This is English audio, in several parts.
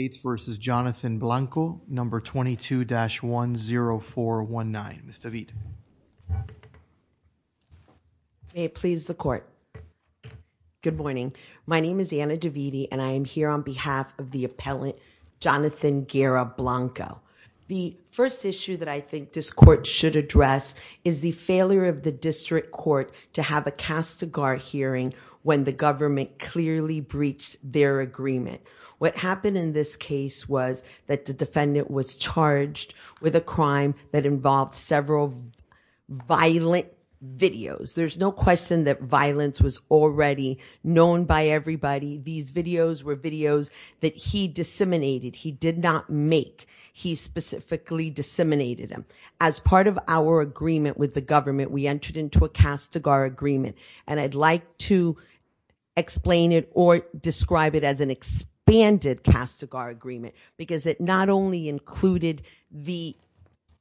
No. 22-10419. Ms. DeVete. May it please the court. Good morning. My name is Anna DeVete and I am here on behalf of the appellant Jonathan Guerra Blanco. The first issue that I think this court should address is the failure of the district court to have a castigar hearing when the government clearly breached their agreement. What happened in this case was that the defendant was charged with a crime that involved several violent videos. There's no question that violence was already known by everybody. These videos were videos that he disseminated. He did not make. He specifically disseminated them. As part of our agreement with the government, we entered into a castigar agreement. And I'd like to explain it or describe it as an expanded castigar agreement because it not only included the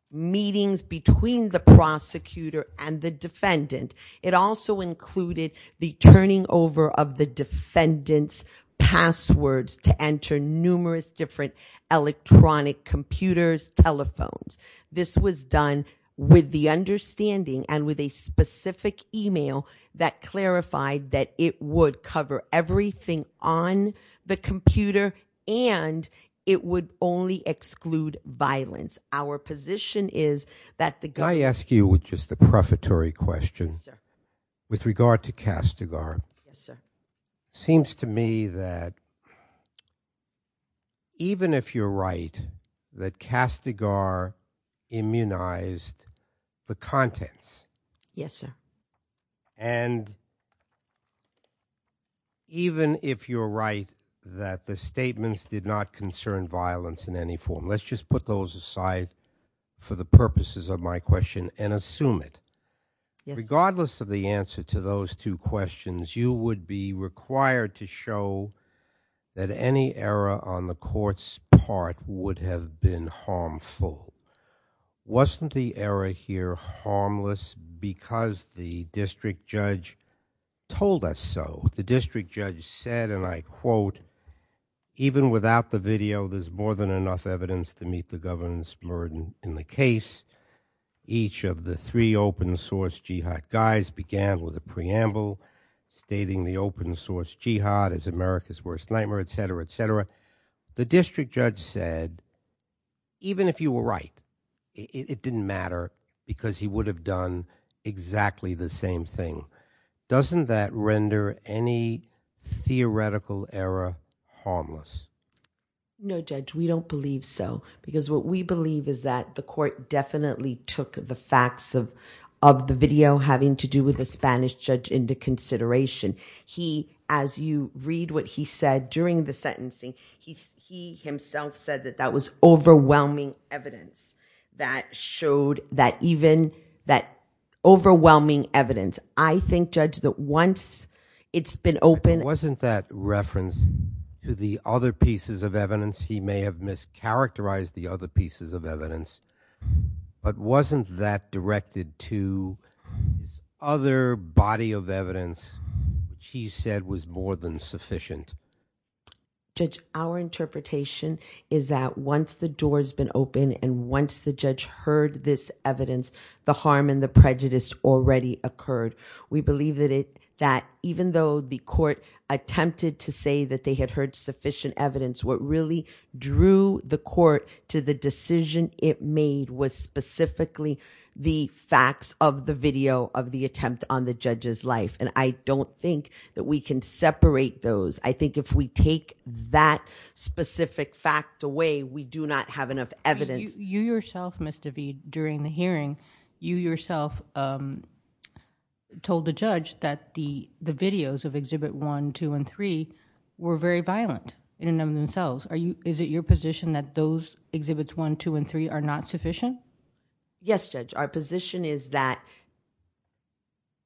meetings between the prosecutor and the defendant, it also included the turning over of the defendant's passwords to enter numerous different electronic computers, telephones. This was done with the understanding and with a specific email that clarified that it would cover everything on the computer and it would only exclude violence. Our position is that the... Can I ask you just a prefatory question? With regard to castigar, it seems to me that even if you're right that castigar immunized the contents. Yes, sir. And even if you're right that the statements did not concern violence in any form. Let's just put those aside for the purposes of my question and assume it. Regardless of the answer to those two questions, you would be required to show that any error on the court's part would have been harmful. Wasn't the error here harmless because the district judge told us so? The district judge said, and I quote, even without the video, there's more than enough evidence to meet the governance burden in the case. Each of the three open source Jihad guys began with a preamble stating the open source Jihad is America's worst nightmare, et cetera, et cetera. The district judge said, even if you were right, it didn't matter because he would have done exactly the same thing. Doesn't that render any theoretical error harmless? No, Judge, we don't believe so because what we believe is that the court definitely took the facts of the video having to do with the evidence. I read what he said during the sentencing. He himself said that that was overwhelming evidence that showed that even that overwhelming evidence, I think, Judge, that once it's been open. Wasn't that reference to the other pieces of evidence? He may have mischaracterized the other pieces of evidence, but wasn't that directed to other body of evidence that was sufficient? Judge, our interpretation is that once the door's been open and once the judge heard this evidence, the harm and the prejudice already occurred. We believe that it, that even though the court attempted to say that they had heard sufficient evidence, what really drew the court to the decision it made was specifically the facts of the video of the attempt on the judge's life. I don't think that we can separate those. I think if we take that specific fact away, we do not have enough evidence. You yourself, Ms. DeVete, during the hearing, you yourself told the judge that the videos of Exhibit 1, 2, and 3 were very violent in and of themselves. Is it your position that those Exhibits 1, 2, and 3 are not sufficient? Yes, Judge. Our position is that,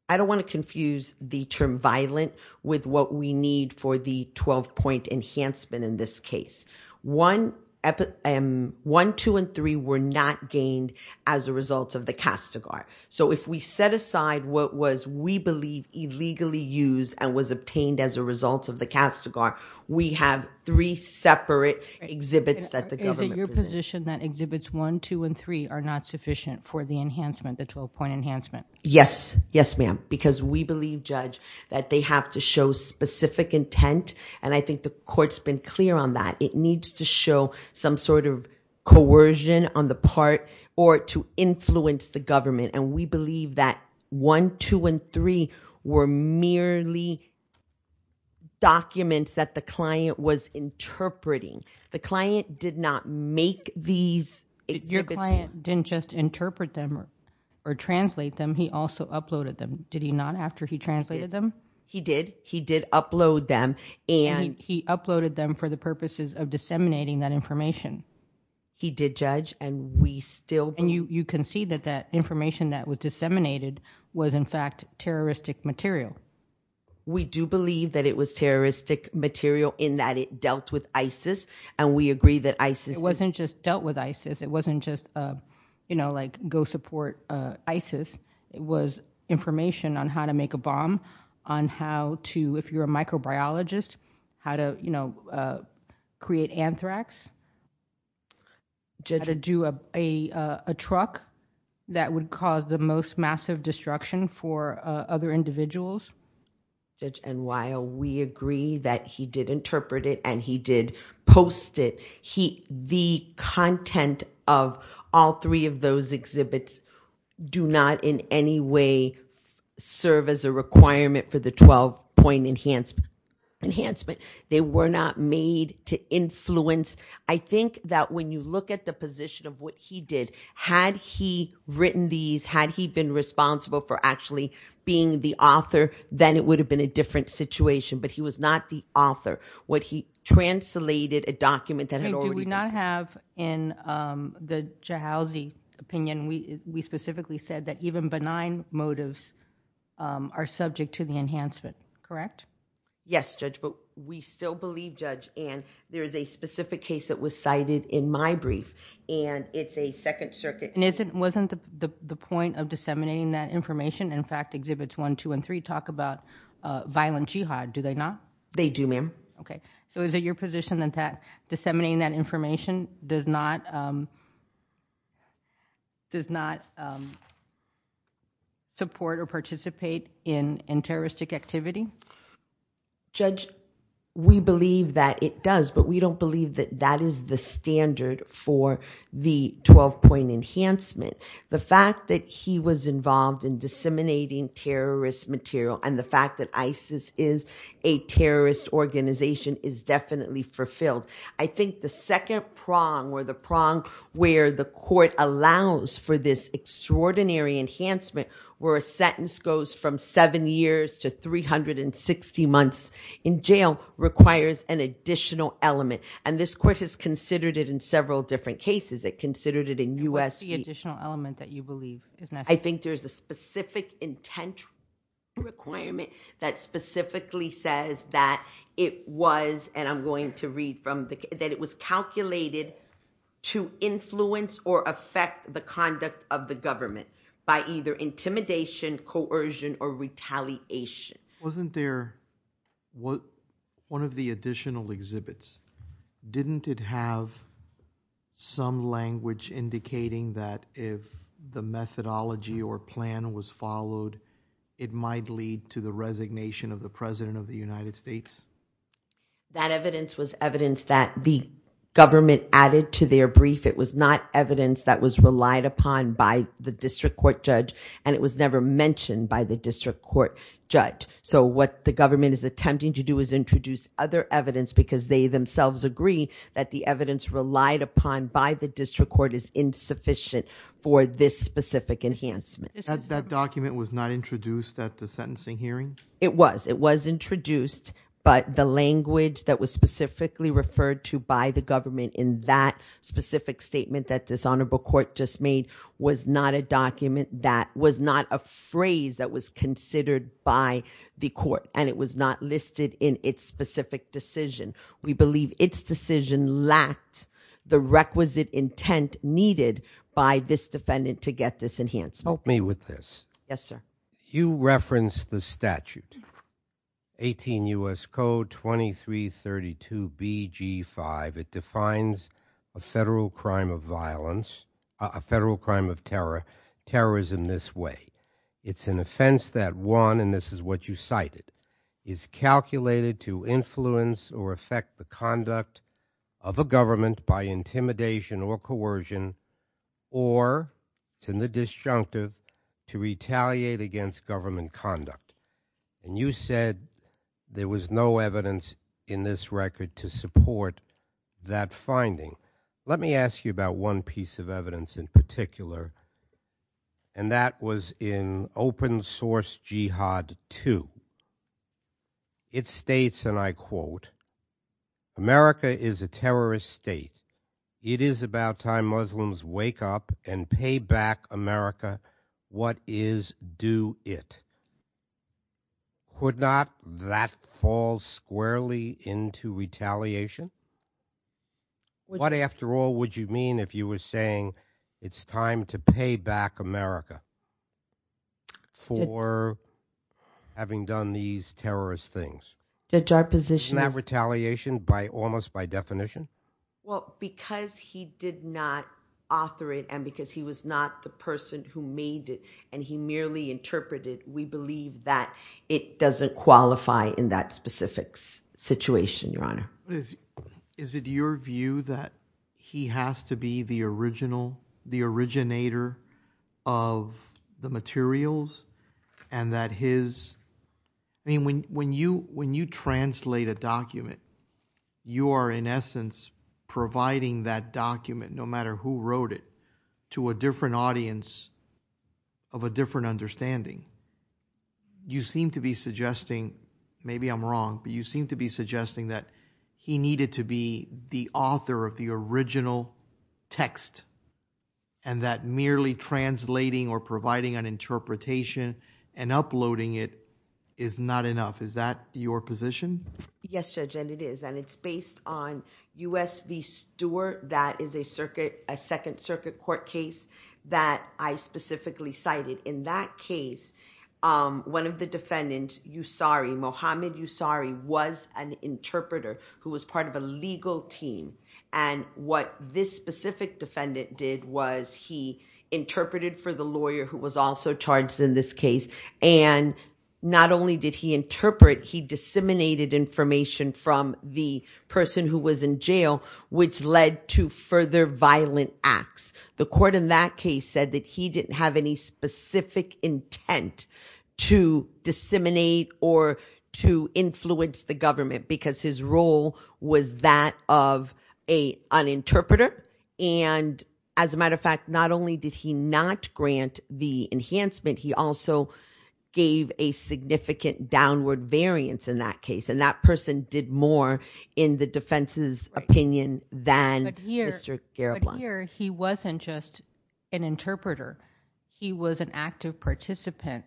I don't want to confuse the term violent with what we need for the 12-point enhancement in this case. 1, 2, and 3 were not gained as a result of the castigar. If we set aside what was, we believe, illegally used and was obtained as a result of the castigar, we have three separate Exhibits that the government presented. Is it your position that Exhibits 1, 2, and 3 are not sufficient for the enhancement, the 12-point enhancement? Yes. Yes, ma'am. Because we believe, Judge, that they have to show specific intent. I think the court's been clear on that. It needs to show some sort of coercion on the part or to influence the government. We believe that 1, 2, and 3 were merely documents that the client was interpreting. The client did not make these Exhibits. Your client didn't just interpret them or translate them. He also uploaded them. Did he not, after he translated them? He did. He did upload them and... He uploaded them for the purposes of disseminating that information. He did, Judge, and we still... And you can see that that information that was disseminated was in fact terroristic material. We do believe that it was terroristic material in that it dealt with ISIS, and we agree that ISIS... It wasn't just dealt with ISIS. It wasn't just like go support ISIS. It was information on how to make a bomb, on how to, if you're a microbiologist, how to create anthrax, how to do a truck that would cause the most massive destruction for other individuals. Judge, and while we agree that he did interpret it and he did post it, the content of all three of those Exhibits do not in any way serve as a requirement for the 12-point enhancement. They were not made to influence... I think that when you look at the position of what he did, had he written these, had he been responsible for actually being the author, then it would have been a different situation, but he was not the author. What he translated, a document that had already been... Do we not have in the Chahalzi opinion, we specifically said that even benign motives are subject to the enhancement, correct? Yes, Judge, but we still believe, Judge, and there is a specific case that was cited in my brief, and it's a Second Circuit... And wasn't the point of disseminating that information, in fact, Exhibits 1, 2, and 3 talk about violent jihad, do they not? They do, ma'am. Okay, so is it your position that disseminating that information does not support or participate in terroristic activity? Judge, we believe that it does, but we don't believe that that is the standard for the 12-point enhancement. The fact that he was ISIS is a terrorist organization is definitely fulfilled. I think the second prong, or the prong where the court allows for this extraordinary enhancement, where a sentence goes from seven years to 360 months in jail, requires an additional element, and this court has considered it in several different cases. It considered it in U.S. What's the additional element that you believe is necessary? I think there's a specific intent requirement that specifically says that it was, and I'm going to read from the... That it was calculated to influence or affect the conduct of the government by either intimidation, coercion, or retaliation. Wasn't there... One of the additional exhibits, didn't it have some language indicating that if the methodology or plan was followed, it might lead to the resignation of the President of the United States? That evidence was evidence that the government added to their brief. It was not evidence that was relied upon by the district court judge, and it was never mentioned by the district court judge. What the government is attempting to do is introduce other evidence because they themselves agree that the evidence relied upon by the district court is insufficient for this specific enhancement. That document was not introduced at the sentencing hearing? It was. It was introduced, but the language that was specifically referred to by the government in that specific statement that this honorable court just made was not a document that... Was not a phrase that was considered by the court, and it was not listed in its specific decision. We believe its decision lacked the requisite intent needed by this defendant to get this enhancement. Help me with this. Yes, sir. You referenced the statute, 18 U.S. Code 2332BG5. It defines a federal crime of violence, a federal crime of terrorism this way. It's an offense that one, and this is what you cited, is calculated to influence or affect the conduct of a government by intimidation or coercion or, to the disjunctive, to retaliate against government conduct. And you said there was no evidence in this record to support that finding. Let me ask you about one piece of evidence in particular, and that was in Open Source Jihad 2. It states, and I quote, America is a terrorist state. It is about time Muslims wake up and pay back America what is due it. Would not that fall squarely into retaliation? What, after all, would you mean if you were saying it's time to pay back America for having done these terrorist things? Judge, our position is... Isn't that retaliation almost by definition? Well, because he did not author it and because he was not the person who made it and he merely interpreted, we believe that it doesn't qualify in that specific situation, Your Honor. Is it your view that he has to be the original, the originator of the materials and that his... I mean, when you translate a document, you are in essence providing that document, no matter who wrote it, to a different audience of a different understanding. You seem to be suggesting, maybe I'm wrong, but you seem to be suggesting that he needed to be the author of the original text and that merely translating or providing an interpretation and uploading it is not enough. Is that your position? Yes, Judge, and it is. It's based on U.S. v. Stewart. That is a Second Circuit Court case that I specifically cited. In that case, one of the defendants, Usari, Mohamed Usari, was an interpreter who was part of a legal team. And what this specific defendant did was he interpreted for the lawyer who was also charged in this case. And not only did he interpret, he disseminated information from the person who was in jail, which led to further violent acts. The court in that case said that he didn't have any specific intent to disseminate or to influence the government because his role was that of an interpreter. And as a matter of fact, not only did he not grant the enhancement, he also gave a significant downward variance in that case. And that person did more in the defense's opinion than Mr. Garibaldi. But here, he wasn't just an interpreter. He was an active participant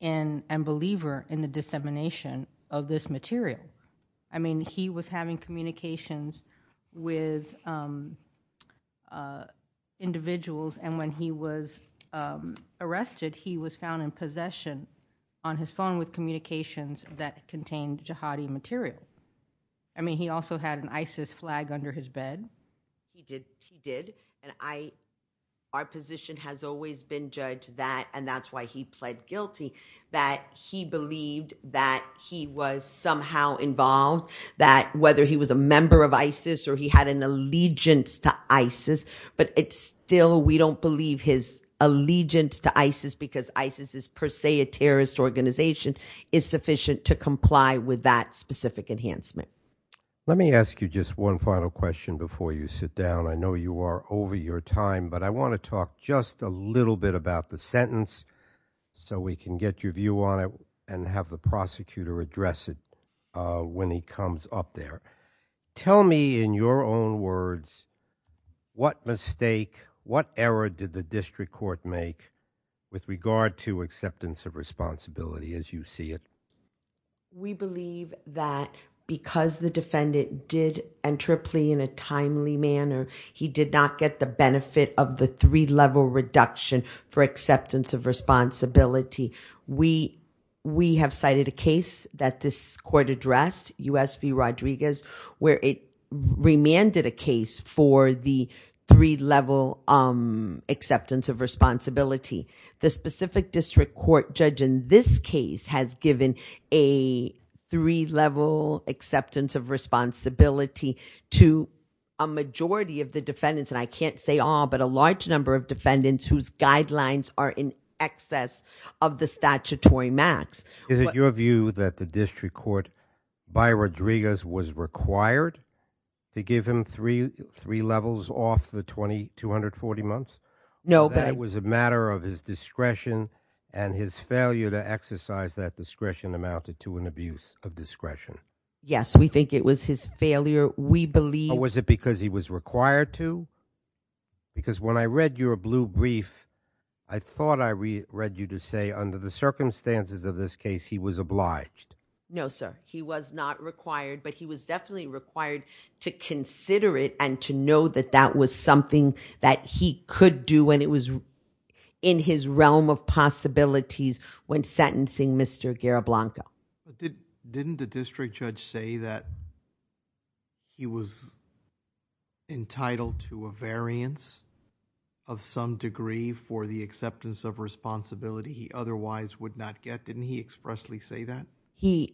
and believer in the dissemination of this material. I mean, he was having communications with individuals, and when he was arrested, he was found in possession on his phone with communications that contained jihadi material. I mean, he also had an ISIS flag under his bed. He did. He did. And our position has always been judged that, and that's why he pled guilty, that he believed that he was somehow involved, that whether he was a member of ISIS or he had an allegiance to ISIS, but still we don't believe his allegiance to ISIS because ISIS is per se a terrorist organization, is sufficient to comply with that specific enhancement. Let me ask you just one final question before you sit down. I know you are over your time, but I want to talk just a little bit about the sentence so we can get your view on it and have the prosecutor address it when he comes up there. Tell me, in your own words, what mistake, what error did the district court make with regard to acceptance of responsibility as you see it? We believe that because the defendant did enter a plea in a timely manner, he did not get the benefit of the three-level reduction for acceptance of responsibility. We have cited a case that this court addressed, U.S. v. Rodriguez, where it remanded a case for the three-level acceptance of responsibility. The specific district court judge in this case has given a three-level acceptance of responsibility to a majority of the defendants, and I can't say all, but a large number of defendants whose guidelines are in excess of the statutory max. Is it your view that the district court, by Rodriguez, was required to give him three levels off the 240 months? No. That it was a matter of his discretion and his failure to exercise that discretion amounted to an abuse of discretion? Yes, we think it was his failure. Was it because he was required to? Because when I read your blue brief, I thought I read you to say under the circumstances of this case, he was obliged. No, sir. He was not required, but he was definitely required to consider it and to know that that was something that he could do when it was in his realm of possibilities when sentencing Mr. Garablanca. Didn't the district judge say that he was entitled to a variance of some degree for the acceptance of responsibility he otherwise would not get? Didn't he expressly say that? He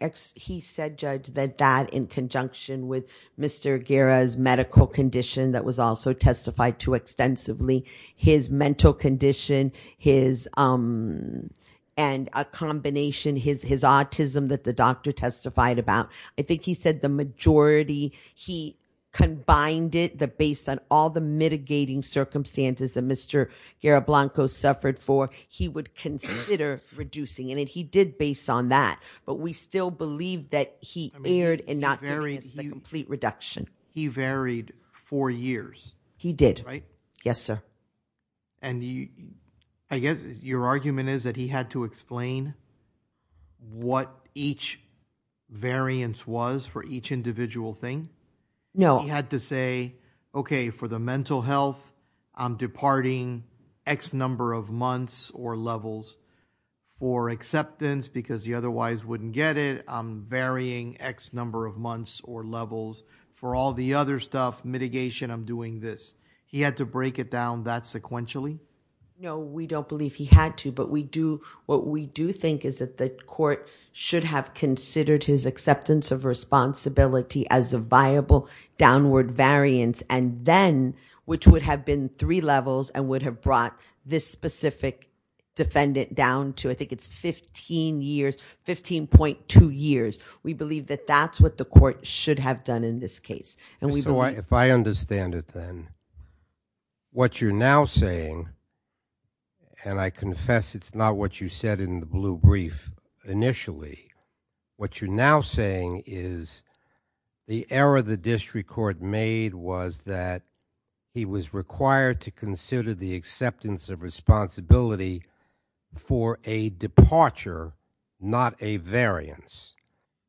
said, Judge, that that in conjunction with Mr. Garra's medical condition that was also testified to extensively, his mental condition and a combination, his autism that the doctor testified about, I think he said the majority, he combined it based on all the mitigating circumstances that Mr. Garablanca suffered for, he would consider reducing. And he did based on that. But we still believe that he erred and not reduction. He varied for years. He did. Right. Yes, sir. And I guess your argument is that he had to explain what each variance was for each individual thing. No, he had to say, okay, for the mental health, I'm departing X number of months or levels for acceptance because he otherwise wouldn't get it. I'm varying X number of months or levels for all the other stuff, mitigation, I'm doing this. He had to break it down that sequentially? No, we don't believe he had to, but what we do think is that the court should have considered his acceptance of responsibility as a viable downward variance and then, which would have been three levels and would have brought this specific defendant down to, I think it's 15 years, 15.2 years. We believe that that's what the court should have done in this case. So if I understand it then, what you're now saying, and I confess it's not what you said in the blue brief initially, what you're now saying is the error the district court made was that he was required to consider the acceptance of responsibility for a departure, not a variance,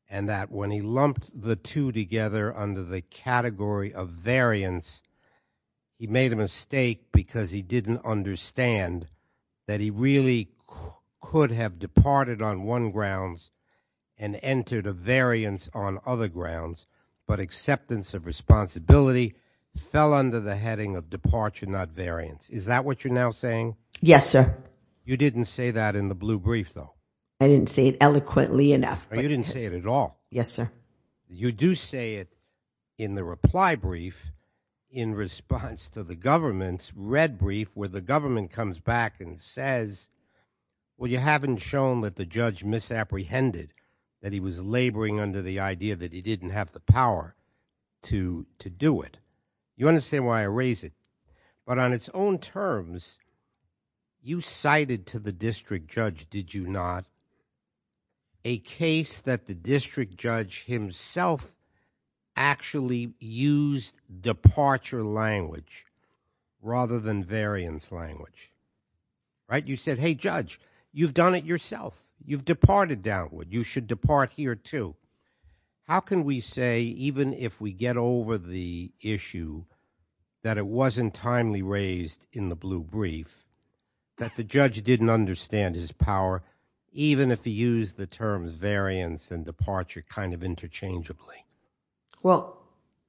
and that when he lumped the two together under the category of variance, he made a mistake because he didn't understand that he really could have departed on one grounds and entered a variance on other grounds, but acceptance of responsibility fell under the heading of departure, not variance. Is that what you're now saying? Yes, sir. You didn't say that in the blue brief, though. I didn't say it eloquently enough. You didn't say it at all. Yes, sir. You do say it in the reply brief in response to the government's red brief where the government comes back and says, well, you haven't shown that the judge misapprehended, that he was laboring under the idea that he didn't have the power to do it. You understand why I raise it, but on its own terms, you cited to the district judge, did you not, a case that the district judge himself actually used departure language rather than variance language, right? You said, hey, judge, you've done it yourself. You've departed downward. You should depart here, too. How can we say, even if we get over the issue, that it wasn't timely raised in the blue brief, that the judge didn't understand his power, even if he used the terms variance and departure kind of interchangeably? Well,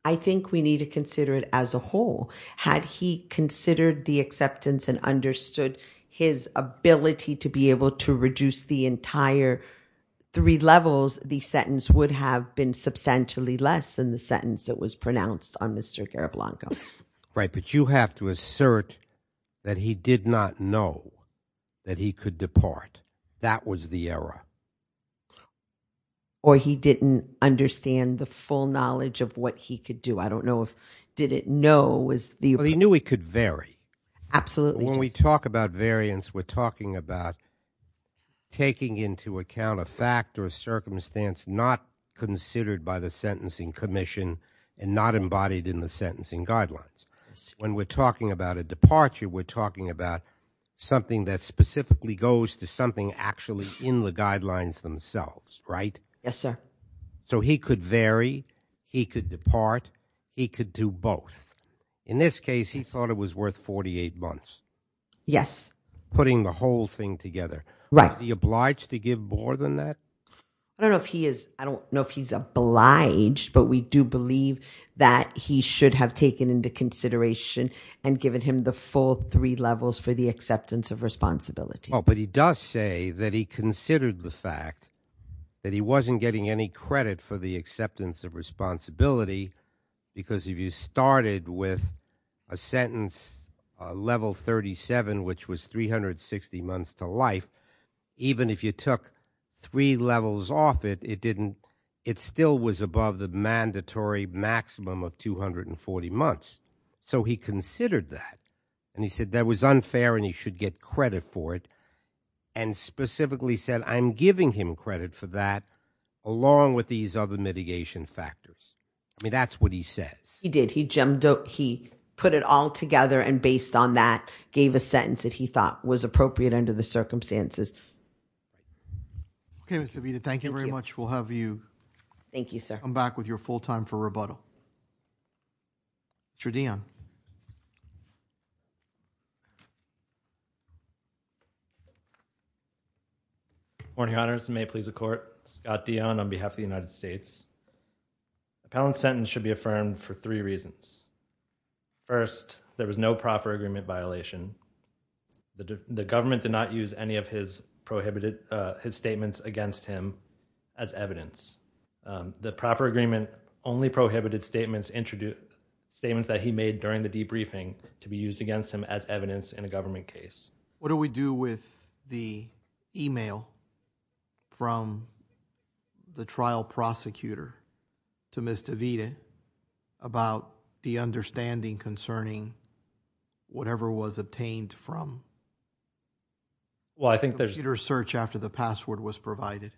I think we need to consider it as a whole. Had he considered the acceptance and understood his ability to be able to reduce the entire three levels, the sentence would have been substantially less than the sentence that was pronounced on Mr. Gariblanco. Right, but you have to assert that he did not know that he could depart. That was the error. Or he didn't understand the full knowledge of what he could do. I don't know if did it know was the... Well, he knew he could vary. Absolutely. When we talk about variance, we're talking about taking into account a fact or a circumstance not considered by the sentencing commission and not embodied in the sentencing guidelines. When we're talking about a departure, we're talking about something that specifically goes to something actually in the guidelines themselves, right? Yes, sir. So he could vary, he could depart, he could do both. In this case, he thought it was worth 48 months. Yes. Putting the whole thing together. Right. Was he obliged to give more than that? I don't know if he's obliged, but we do believe that he should have taken into consideration and given him the full three levels for the acceptance of responsibility. Oh, but he does say that he considered the fact that he wasn't getting any credit for the acceptance of responsibility because if you started with a sentence level 37, which was 360 months to life, even if you took three levels off it, it still was above the mandatory maximum of 240 months. So he considered that. And he said that was unfair and he should get credit for it and specifically said, I'm giving him credit for that along with these other mitigation factors. I mean, that's what he says. He did. He put it all together and based on that, gave a sentence that he thought was appropriate under the circumstances. Okay, Ms. Avita, thank you very much. We'll have you come back with your full time for rebuttal. Mr. Dion. Morning, Your Honors. May it please the Court. Scott Dion on behalf of the United States. Appellant's sentence should be affirmed for three reasons. First, there was no proper agreement violation. The government did not use any of his statements against him as evidence. The proper agreement only prohibited statements that he made during the debriefing to be used against him as evidence in a government case. What do we do with the email from the trial prosecutor to Ms. Avita about the understanding concerning whatever was obtained from the prosecutor's search after the password was provided?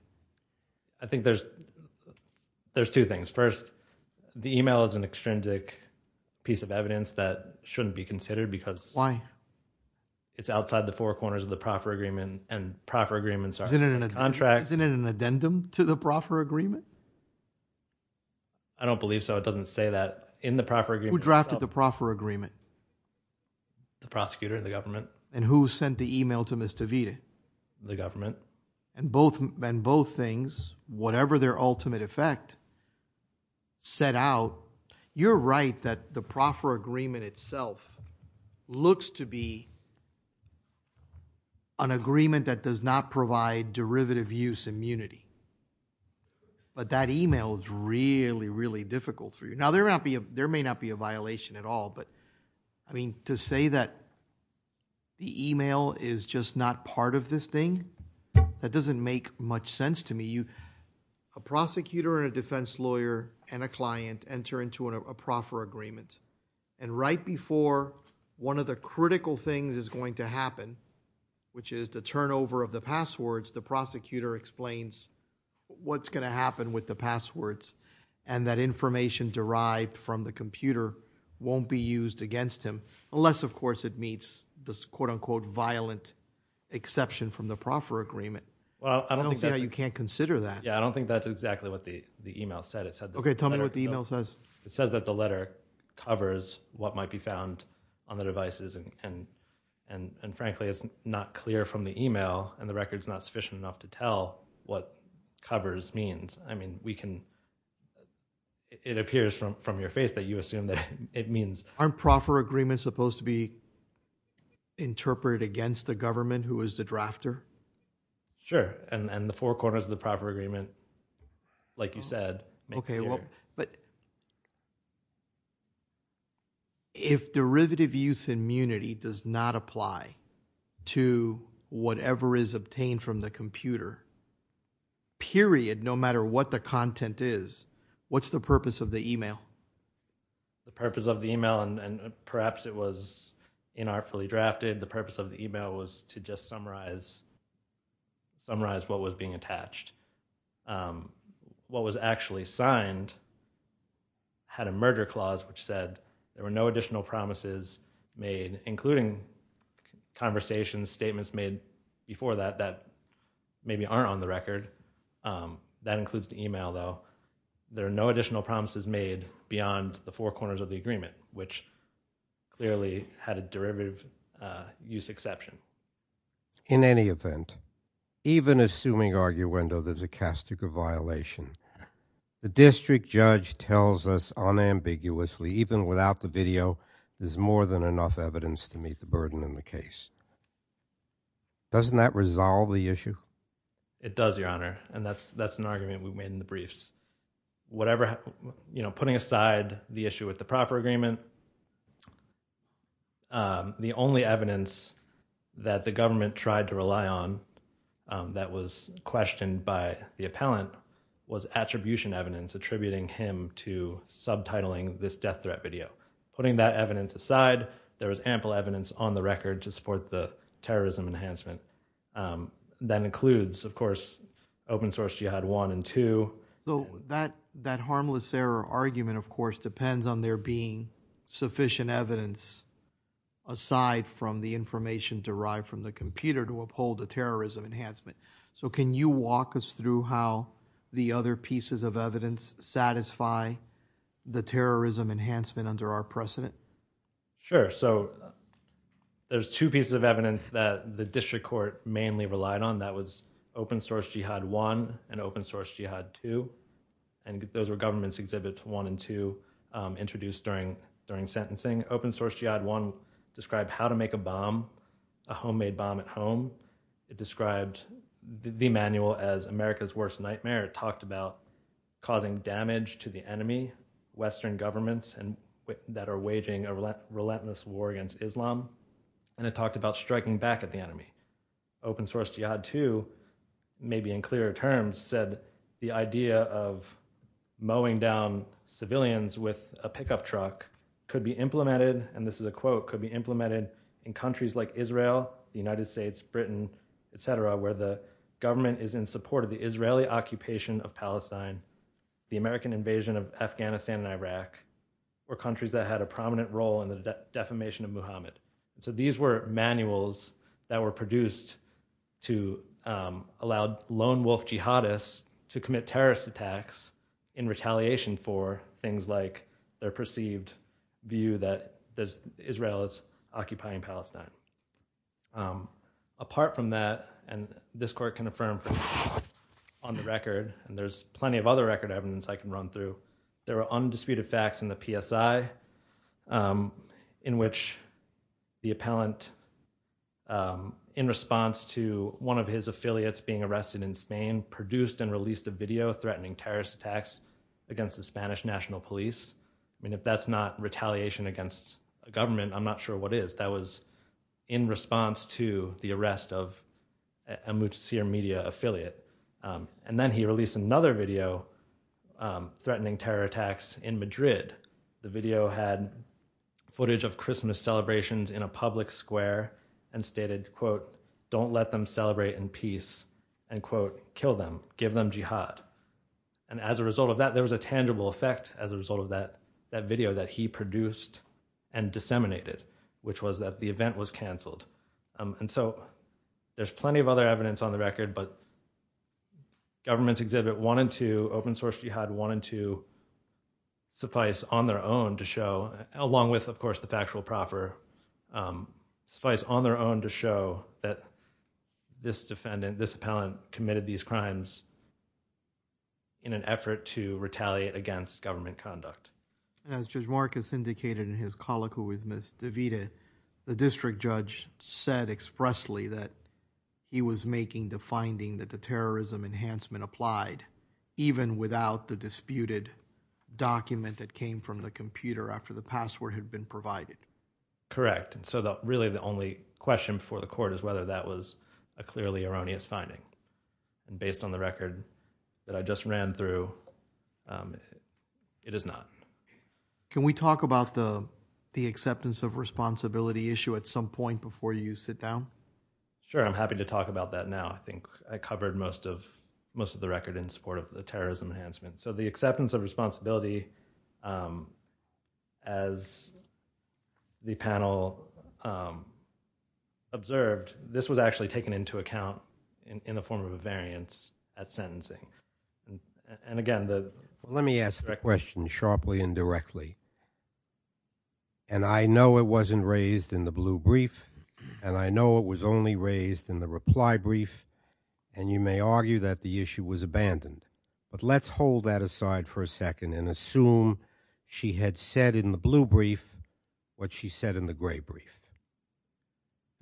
I think there's two things. First, the email is an extrinsic piece of evidence that shouldn't be considered because it's outside the four corners of the proper agreement and proper agreements are contracts. Isn't it an addendum to the proper agreement? I don't believe so. It doesn't say that in the proper agreement. Who drafted the proper agreement? The prosecutor, the government. And who sent the email to Ms. Avita? The government. And both things, whatever their ultimate effect, set out, you're right that the proper agreement itself looks to be an agreement that does not provide derivative use immunity. But that email is really, really difficult for you. Now, there may not be a violation at all, but to say that the email is just not part of this thing, that doesn't make much sense to me. A prosecutor and a defense lawyer and a client enter into a proper agreement and right before one of the critical things is going to happen, which is the turnover of the passwords, and that information derived from the computer won't be used against him, unless, of course, it meets this, quote-unquote, violent exception from the proper agreement. I don't see how you can't consider that. Yeah, I don't think that's exactly what the email said. Okay, tell me what the email says. It says that the letter covers what might be found on the devices and, frankly, it's not clear from the email and the record's not sufficient enough to tell what covers means. I mean, it appears from your face that you assume that it means. Aren't proper agreements supposed to be interpreted against the government who is the drafter? Sure, and the four corners of the proper agreement, like you said. Okay, well, but if derivative use immunity does not apply to whatever is obtained from the computer, period, no matter what the content is, what's the purpose of the email? The purpose of the email, and perhaps it was inartfully drafted, the purpose of the email was to just summarize what was being attached. What was actually signed had a merger clause which said there were no additional promises made, including conversations, statements made before that that maybe aren't on the record. That includes the email, though. There are no additional promises made beyond the four corners of the agreement, which clearly had a derivative use exception. In any event, even assuming arguendo, there's a castigo violation. The district judge tells us unambiguously, even without the video, there's more than enough evidence to meet the burden in the case. Doesn't that resolve the issue? It does, Your Honor, and that's an argument we've made in the briefs. Putting aside the issue with the proffer agreement, the only evidence that the government tried to rely on that was questioned by the appellant was attribution evidence attributing him to subtitling this death threat video. Putting that evidence aside, there was ample evidence on the record to support the terrorism enhancement. That includes, of course, open-source Jihad 1 and 2. That harmless error argument, of course, depends on there being sufficient evidence aside from the information derived from the computer to uphold the terrorism enhancement. Can you walk us through how the other pieces of evidence satisfy the terrorism enhancement under our precedent? Sure. There's two pieces of evidence that the district court mainly relied on. That was open-source Jihad 1 and open-source Jihad 2. Those were government exhibits 1 and 2 introduced during sentencing. Open-source Jihad 1 described how to make a bomb, a homemade bomb at home. It described the manual as America's worst nightmare. It talked about causing damage to the enemy, Western governments that are waging a relentless war against Islam. And it talked about striking back at the enemy. Open-source Jihad 2, maybe in clearer terms, said the idea of mowing down civilians with a pickup truck could be implemented, and this is a quote, could be implemented in countries like Israel, the United States, Britain, et cetera, where the government is in support of the Israeli occupation of Palestine, the American invasion of Afghanistan and Iraq, or countries that had a prominent role in the defamation of Muhammad. So these were manuals that were produced to allow lone wolf jihadists to commit terrorist attacks in retaliation for things like their perceived view that Israel is occupying Palestine. Apart from that, and this court can affirm on the record, and there's plenty of other record evidence I can run through, there are undisputed facts in the PSI in which the appellant, in response to one of his affiliates being arrested in Spain, produced and released a video threatening terrorist attacks against the Spanish National Police. I mean, if that's not retaliation against a government, I'm not sure what is. That was in response to the arrest of a Mujtaba media affiliate. And then he released another video threatening terror attacks in Madrid. The video had footage of Christmas celebrations in a public square and stated, quote, don't let them celebrate in peace, and quote, kill them, give them jihad. And as a result of that, there was a tangible effect as a result of that video that he produced and disseminated, which was that the event was canceled. And so there's plenty of other evidence on the record, but Government's Exhibit 1 and 2, Open Source Jihad 1 and 2, suffice on their own to show, along with, of course, the factual proffer, suffice on their own to show that this defendant, this appellant, committed these crimes in an effort to retaliate against government conduct. And as Judge Marcus indicated in his colloquy with Ms. DeVita, the district judge said expressly that he was making the finding that the terrorism enhancement applied, even without the disputed document that came from the computer after the password had been provided. Correct. So really the only question before the court is whether that was a clearly erroneous finding. Based on the record that I just ran through, it is not. Can we talk about the acceptance of responsibility issue at some point before you sit down? Sure, I'm happy to talk about that now. I think I covered most of the record in support of the terrorism enhancement. So the acceptance of responsibility, as the panel observed, this was actually taken into account in the form of a variance at sentencing. Let me ask the question sharply and directly. I know it wasn't raised in the blue brief, and I know it was only raised in the reply brief, and you may argue that the issue was abandoned. But let's hold that aside for a second and assume she had said in the blue brief what she said in the gray brief.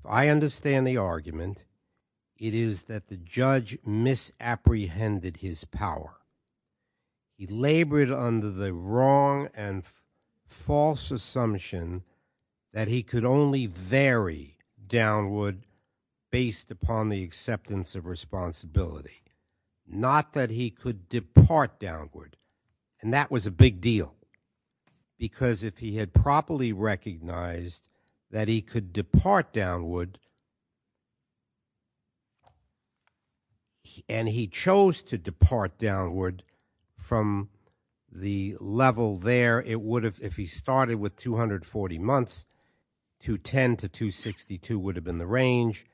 I understand the argument. It is that the judge misapprehended his power. He labored under the wrong and false assumption that he could only vary downward based upon the acceptance of responsibility, not that he could depart downward. And that was a big deal, because if he had properly recognized that he could depart downward, and he chose to depart downward from the level there, if he started with 240 months, 210 to 262 would have been the range.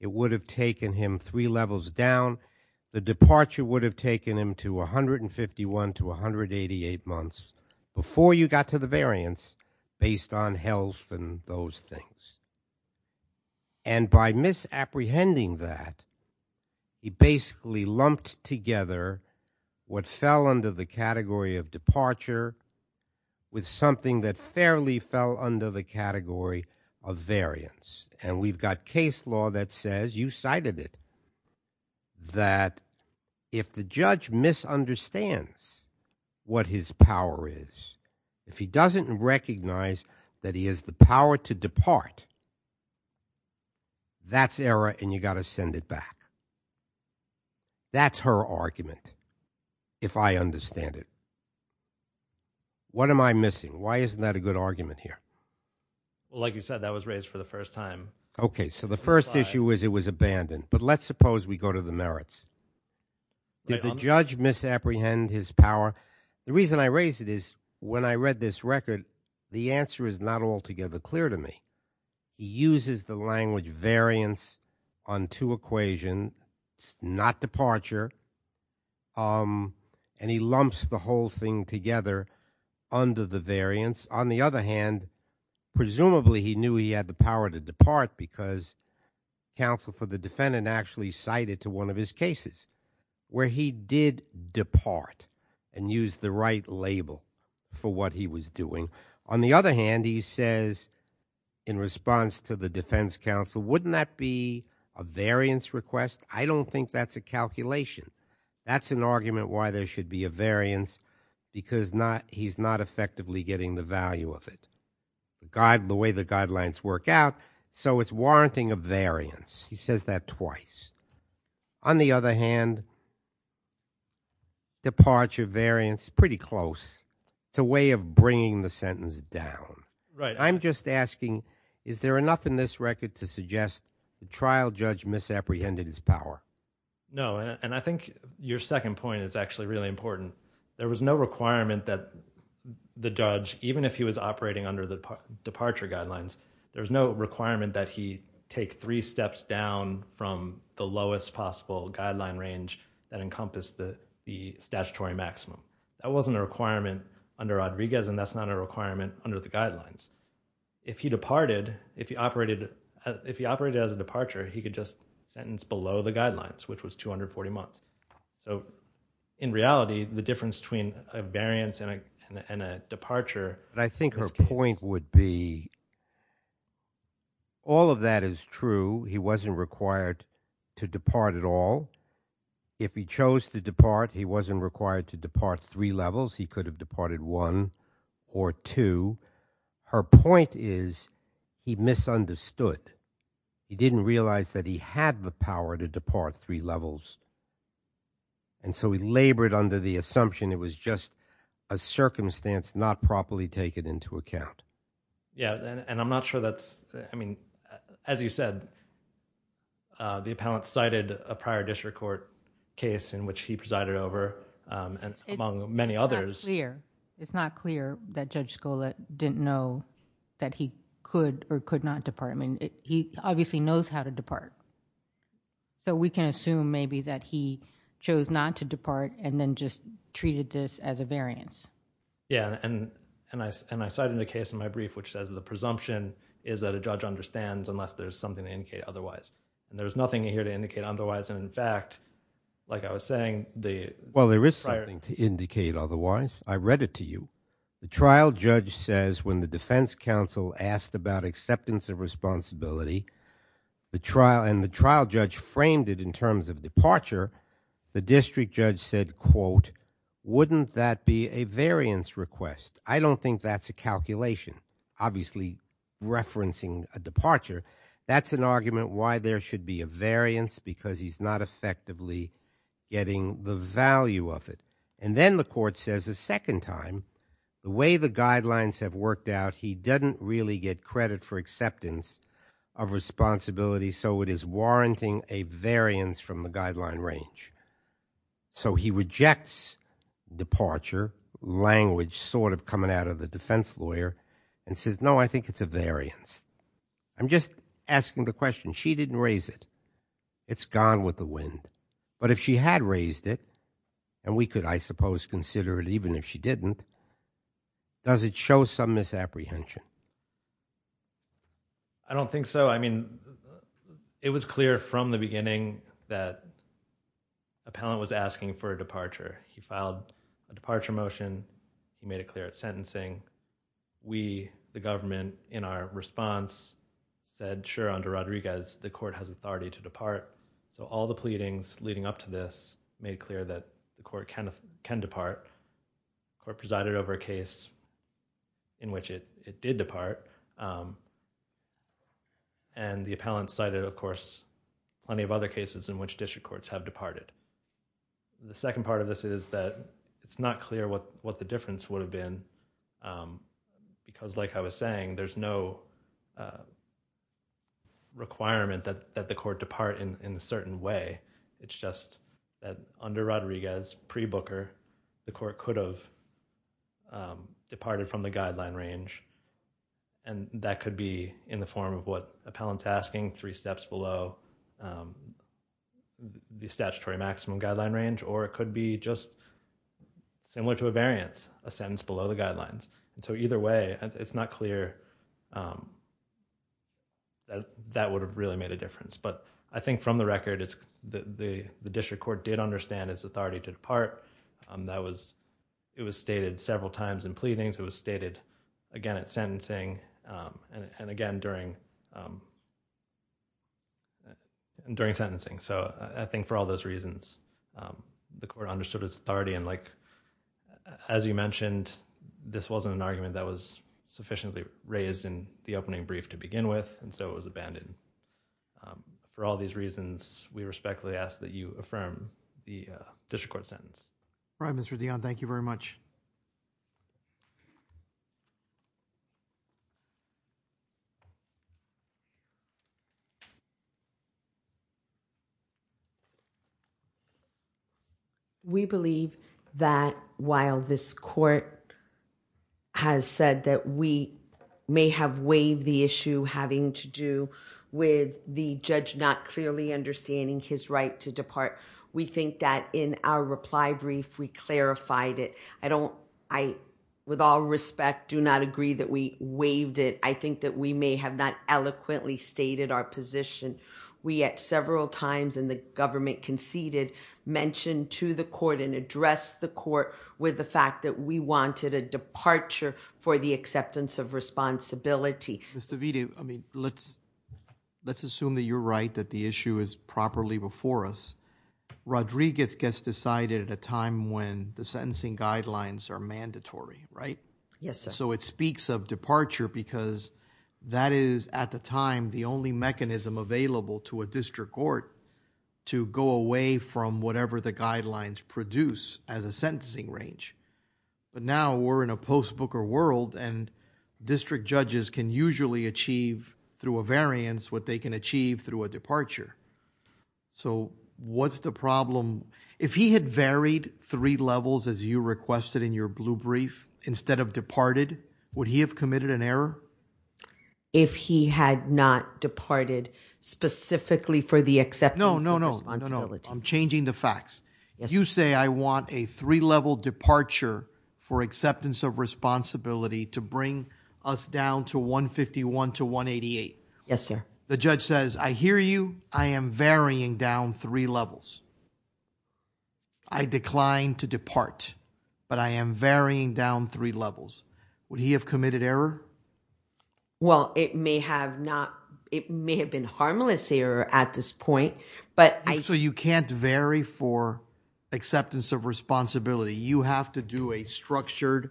It would have taken him three levels down. The departure would have taken him to 151 to 188 months before you got to the variance based on health and those things. And by misapprehending that, he basically lumped together what fell under the category of departure with something that fairly fell under the category of variance. And we've got case law that says, you cited it, that if the judge misunderstands what his power is, if he doesn't recognize that he has the power to depart, that's error and you've got to send it back. That's her argument, if I understand it. What am I missing? Why isn't that a good argument here? Like you said, that was raised for the first time. Okay, so the first issue was it was abandoned. But let's suppose we go to the merits. Did the judge misapprehend his power? The reason I raise it is when I read this record, the answer is not altogether clear to me. He uses the language variance on two equations, not departure, and he lumps the whole thing together under the variance. On the other hand, presumably he knew he had the power to depart because counsel for the defendant actually cited to one of his cases where he did depart and used the right label for what he was doing. On the other hand, he says in response to the defense counsel, wouldn't that be a variance request? I don't think that's a calculation. That's an argument why there should be a variance because he's not effectively getting the value of it. The way the guidelines work out, so it's warranting a variance. He says that twice. On the other hand, departure variance, pretty close. It's a way of bringing the sentence down. I'm just asking, is there enough in this record to suggest the trial judge misapprehended his power? No, and I think your second point is actually really important. There was no requirement that the judge, even if he was operating under the departure guidelines, there was no requirement that he take three steps down from the lowest possible guideline range that encompassed the statutory maximum. That wasn't a requirement under Rodriguez, and that's not a requirement under the guidelines. If he departed, if he operated as a departure, he could just sentence below the guidelines, which was 240 months. In reality, the difference between a variance and a departure... I think her point would be all of that is true. He wasn't required to depart at all. If he chose to depart, he wasn't required to depart three levels. He could have departed one or two. Her point is he misunderstood. He didn't realize that he had the power to depart three levels. He labored under the assumption it was just a circumstance not properly taken into account. I'm not sure that's... As you said, the appellant cited a prior district court case in which he presided over, among many others. It's not clear that Judge Scola didn't know that he could or could not depart. He obviously knows how to depart, so we can assume maybe that he chose not to depart and then just treated this as a variance. Yeah, and I cited a case in my brief which says the presumption is that a judge understands unless there's something to indicate otherwise. There's nothing here to indicate otherwise. In fact, like I was saying... Well, there is something to indicate otherwise. I read it to you. The trial judge says when the defense counsel asked about acceptance of responsibility, and the trial judge framed it in terms of departure, the district judge said, quote, wouldn't that be a variance request? I don't think that's a calculation, obviously referencing a departure. That's an argument why there should be a variance because he's not effectively getting the value of it. And then the court says a second time, the way the guidelines have worked out, he doesn't really get credit for acceptance of responsibility, so it is warranting a variance from the guideline range. So he rejects departure, language sort of coming out of the defense lawyer, and says, no, I think it's a variance. I'm just asking the question. She didn't raise it. It's gone with the wind. But if she had raised it, and we could, I suppose, consider it even if she didn't, does it show some misapprehension? I don't think so. I mean, it was clear from the beginning that Appellant was asking for a departure. He filed a departure motion. He made it clear at sentencing. We, the government, in our response said, sure, under Rodriguez, the court has authority to depart. So all the pleadings leading up to this made it clear that the court can depart. The court presided over a case in which it did depart. And the Appellant cited, of course, plenty of other cases in which district courts have departed. The second part of this is that it's not clear what the difference would have been, because like I was saying, there's no requirement that the court depart in a certain way. It's just that under Rodriguez, pre-Booker, the court could have departed from the guideline range. And that could be in the form of what Appellant's asking, three steps below the statutory maximum guideline range, or it could be just similar to a variance, a sentence below the guidelines. And so either way, it's not clear that that would have really made a difference. But I think from the record, the district court did understand its authority to depart. It was stated several times in pleadings. It was stated, again, at sentencing, and again during sentencing. So I think for all those reasons, the court understood its authority. And like, as you mentioned, this wasn't an argument that was sufficiently raised in the opening brief to begin with, and so it was abandoned. For all these reasons, we respectfully ask that you affirm the district court sentence. All right, Mr. Dionne, thank you very much. Thank you. We believe that while this court has said that we may have waived the issue having to do with the judge not clearly understanding his right to depart, we think that in our reply brief, we clarified it. I, with all respect, do not agree that we waived it. I think that we may have not eloquently stated our position. We, at several times in the government conceded, mentioned to the court and addressed the court with the fact that we wanted a departure for the acceptance of responsibility. Ms. DeVita, let's assume that you're right, that the issue is properly before us. Rodriguez gets decided at a time when the sentencing guidelines are mandatory, right? Yes, sir. So it speaks of departure because that is, at the time, the only mechanism available to a district court to go away from whatever the guidelines produce as a sentencing range. But now, we're in a post-Booker world and district judges can usually achieve through a variance what they can achieve through a departure. So what's the problem? If he had varied three levels, as you requested in your blue brief, instead of departed, would he have committed an error? If he had not departed specifically for the acceptance of responsibility. No, no, no. I'm changing the facts. You say, I want a three-level departure for acceptance of responsibility to bring us down to 151 to 188. Yes, sir. The judge says, I hear you. I am varying down three levels. I decline to depart, but I am varying down three levels. Would he have committed error? Well, it may have not. It may have been harmless error at this point, but I... So you can't vary for acceptance of responsibility. You have to do a structured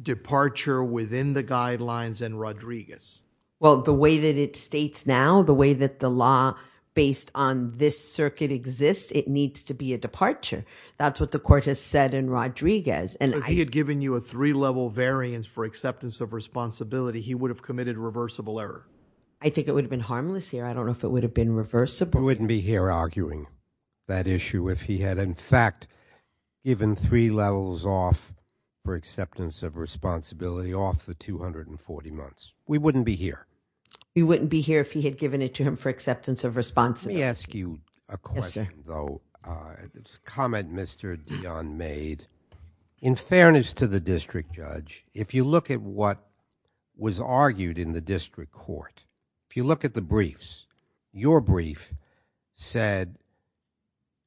departure within the guidelines and Rodriguez. Well, the way that it states now, the way that the law based on this circuit exists, it needs to be a departure. That's what the court has said in Rodriguez. If he had given you a three-level variance for acceptance of responsibility, he would have committed reversible error. I think it would have been harmless error. I don't know if it would have been reversible. We wouldn't be here arguing that issue if he had, in fact, given three levels off for acceptance of responsibility off the 240 months. We wouldn't be here. We wouldn't be here if he had given it to him for acceptance of responsibility. Let me ask you a question, though. It's a comment Mr. Dion made. In fairness to the district judge, if you look at what was argued in the district court, if you look at the briefs, your brief said,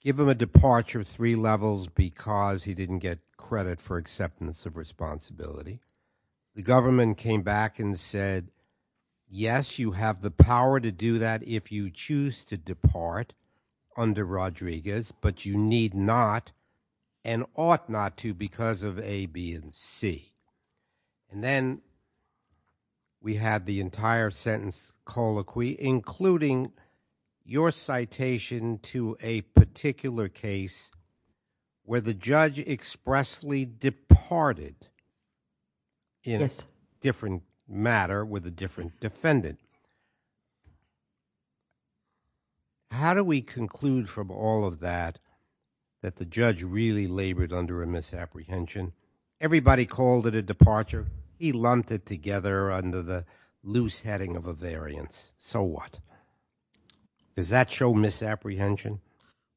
give him a departure of three levels because he didn't get credit for acceptance of responsibility. The government came back and said, yes, you have the power to do that if you choose to depart under Rodriguez, but you need not and ought not to because of A, B, and C. And then we had the entire sentence colloquy, including your citation to a particular case where the judge expressly departed in a different matter with a different defendant. How do we conclude from all of that that the judge really labored under a misapprehension? Everybody called it a departure. He lumped it together under the loose heading of a variance. So what? Does that show misapprehension?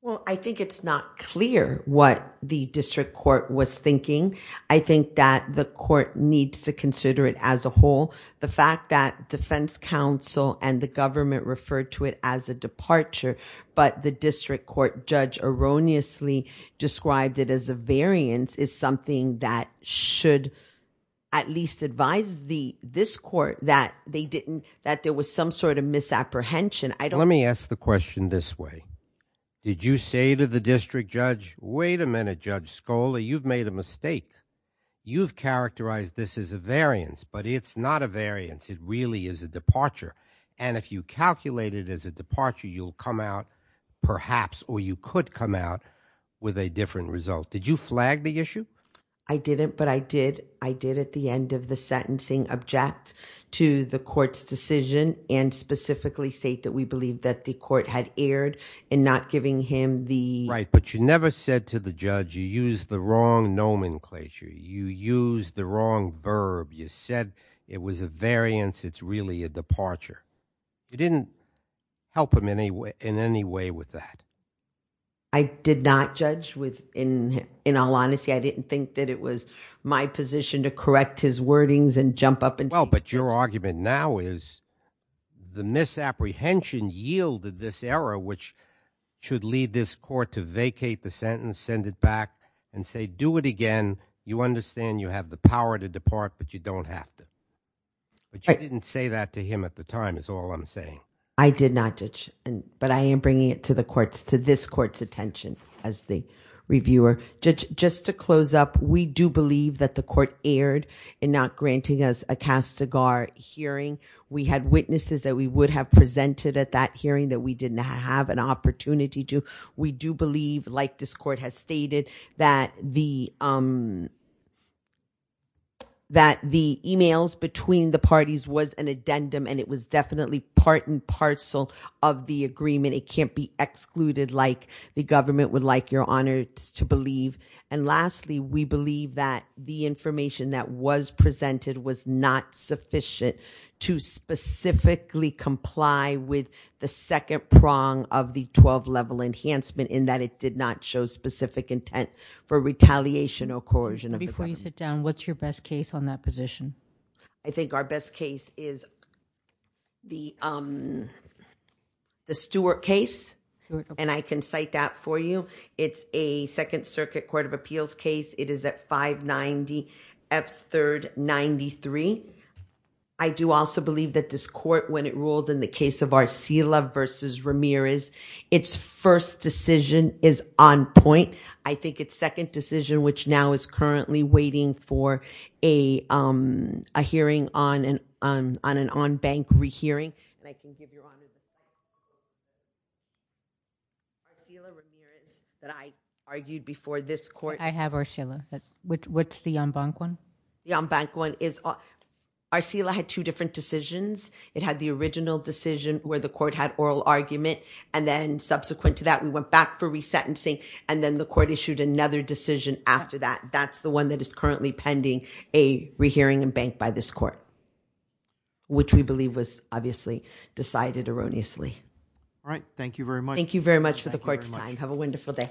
Well, I think it's not clear what the district court was thinking. I think that the court needs to consider it as a whole. The fact that defense counsel and the government referred to it as a departure, but the district court judge erroneously described it as a variance is something that should at least advise this court that there was some sort of misapprehension. Let me ask the question this way. Did you say to the district judge, Wait a minute, Judge Scola, you've made a mistake. You've characterized this as a variance, but it's not a variance. It really is a departure. And if you calculate it as a departure, you'll come out perhaps, or you could come out with a different result. Did you flag the issue? I didn't, but I did at the end of the sentencing object to the court's decision and specifically state that we believe that the court had erred in not giving him the... Right, but you never said to the judge, You used the wrong nomenclature. You used the wrong verb. You said it was a variance. It's really a departure. You didn't help him in any way with that. I did not, Judge. In all honesty, I didn't think that it was my position to correct his wordings and jump up and say... Well, but your argument now is the misapprehension yielded this error, which should lead this court to vacate the sentence, send it back, and say, Do it again. You understand you have the power to depart, but you don't have to. But you didn't say that to him at the time is all I'm saying. I did not, Judge, but I am bringing it to this court's attention as the reviewer. Judge, just to close up, we do believe that the court erred in not granting us a cast-cigar hearing. We had witnesses that we would have presented at that hearing that we did not have an opportunity to. We do believe, like this court has stated, that the emails between the parties was an addendum, and it was definitely part and parcel of the agreement. It can't be excluded like the government would like, Your Honor, to believe. And lastly, we believe that the information that was presented was not sufficient to specifically comply with the second prong of the 12-level enhancement in that it did not show specific intent for retaliation or coercion of the government. Before you sit down, what's your best case on that position? I think our best case is the Stewart case, and I can cite that for you. It's a Second Circuit Court of Appeals case. It is at 590 F. 3rd 93. I do also believe that this court, when it ruled in the case of Arcila v. Ramirez, its first decision is on point. I think its second decision, which now is currently waiting for a hearing on an on-bank rehearing. And I can give you all the details. Arcila Ramirez that I argued before this court. I have Arcila. What's the on-bank one? The on-bank one is Arcila had two different decisions. It had the original decision where the court had oral argument, and then subsequent to that we went back for resentencing, and then the court issued another decision after that. That's the one that is currently pending a rehearing on-bank by this court, which we believe was obviously decided erroneously. All right. Thank you very much. Thank you very much for the court's time. Have a wonderful day.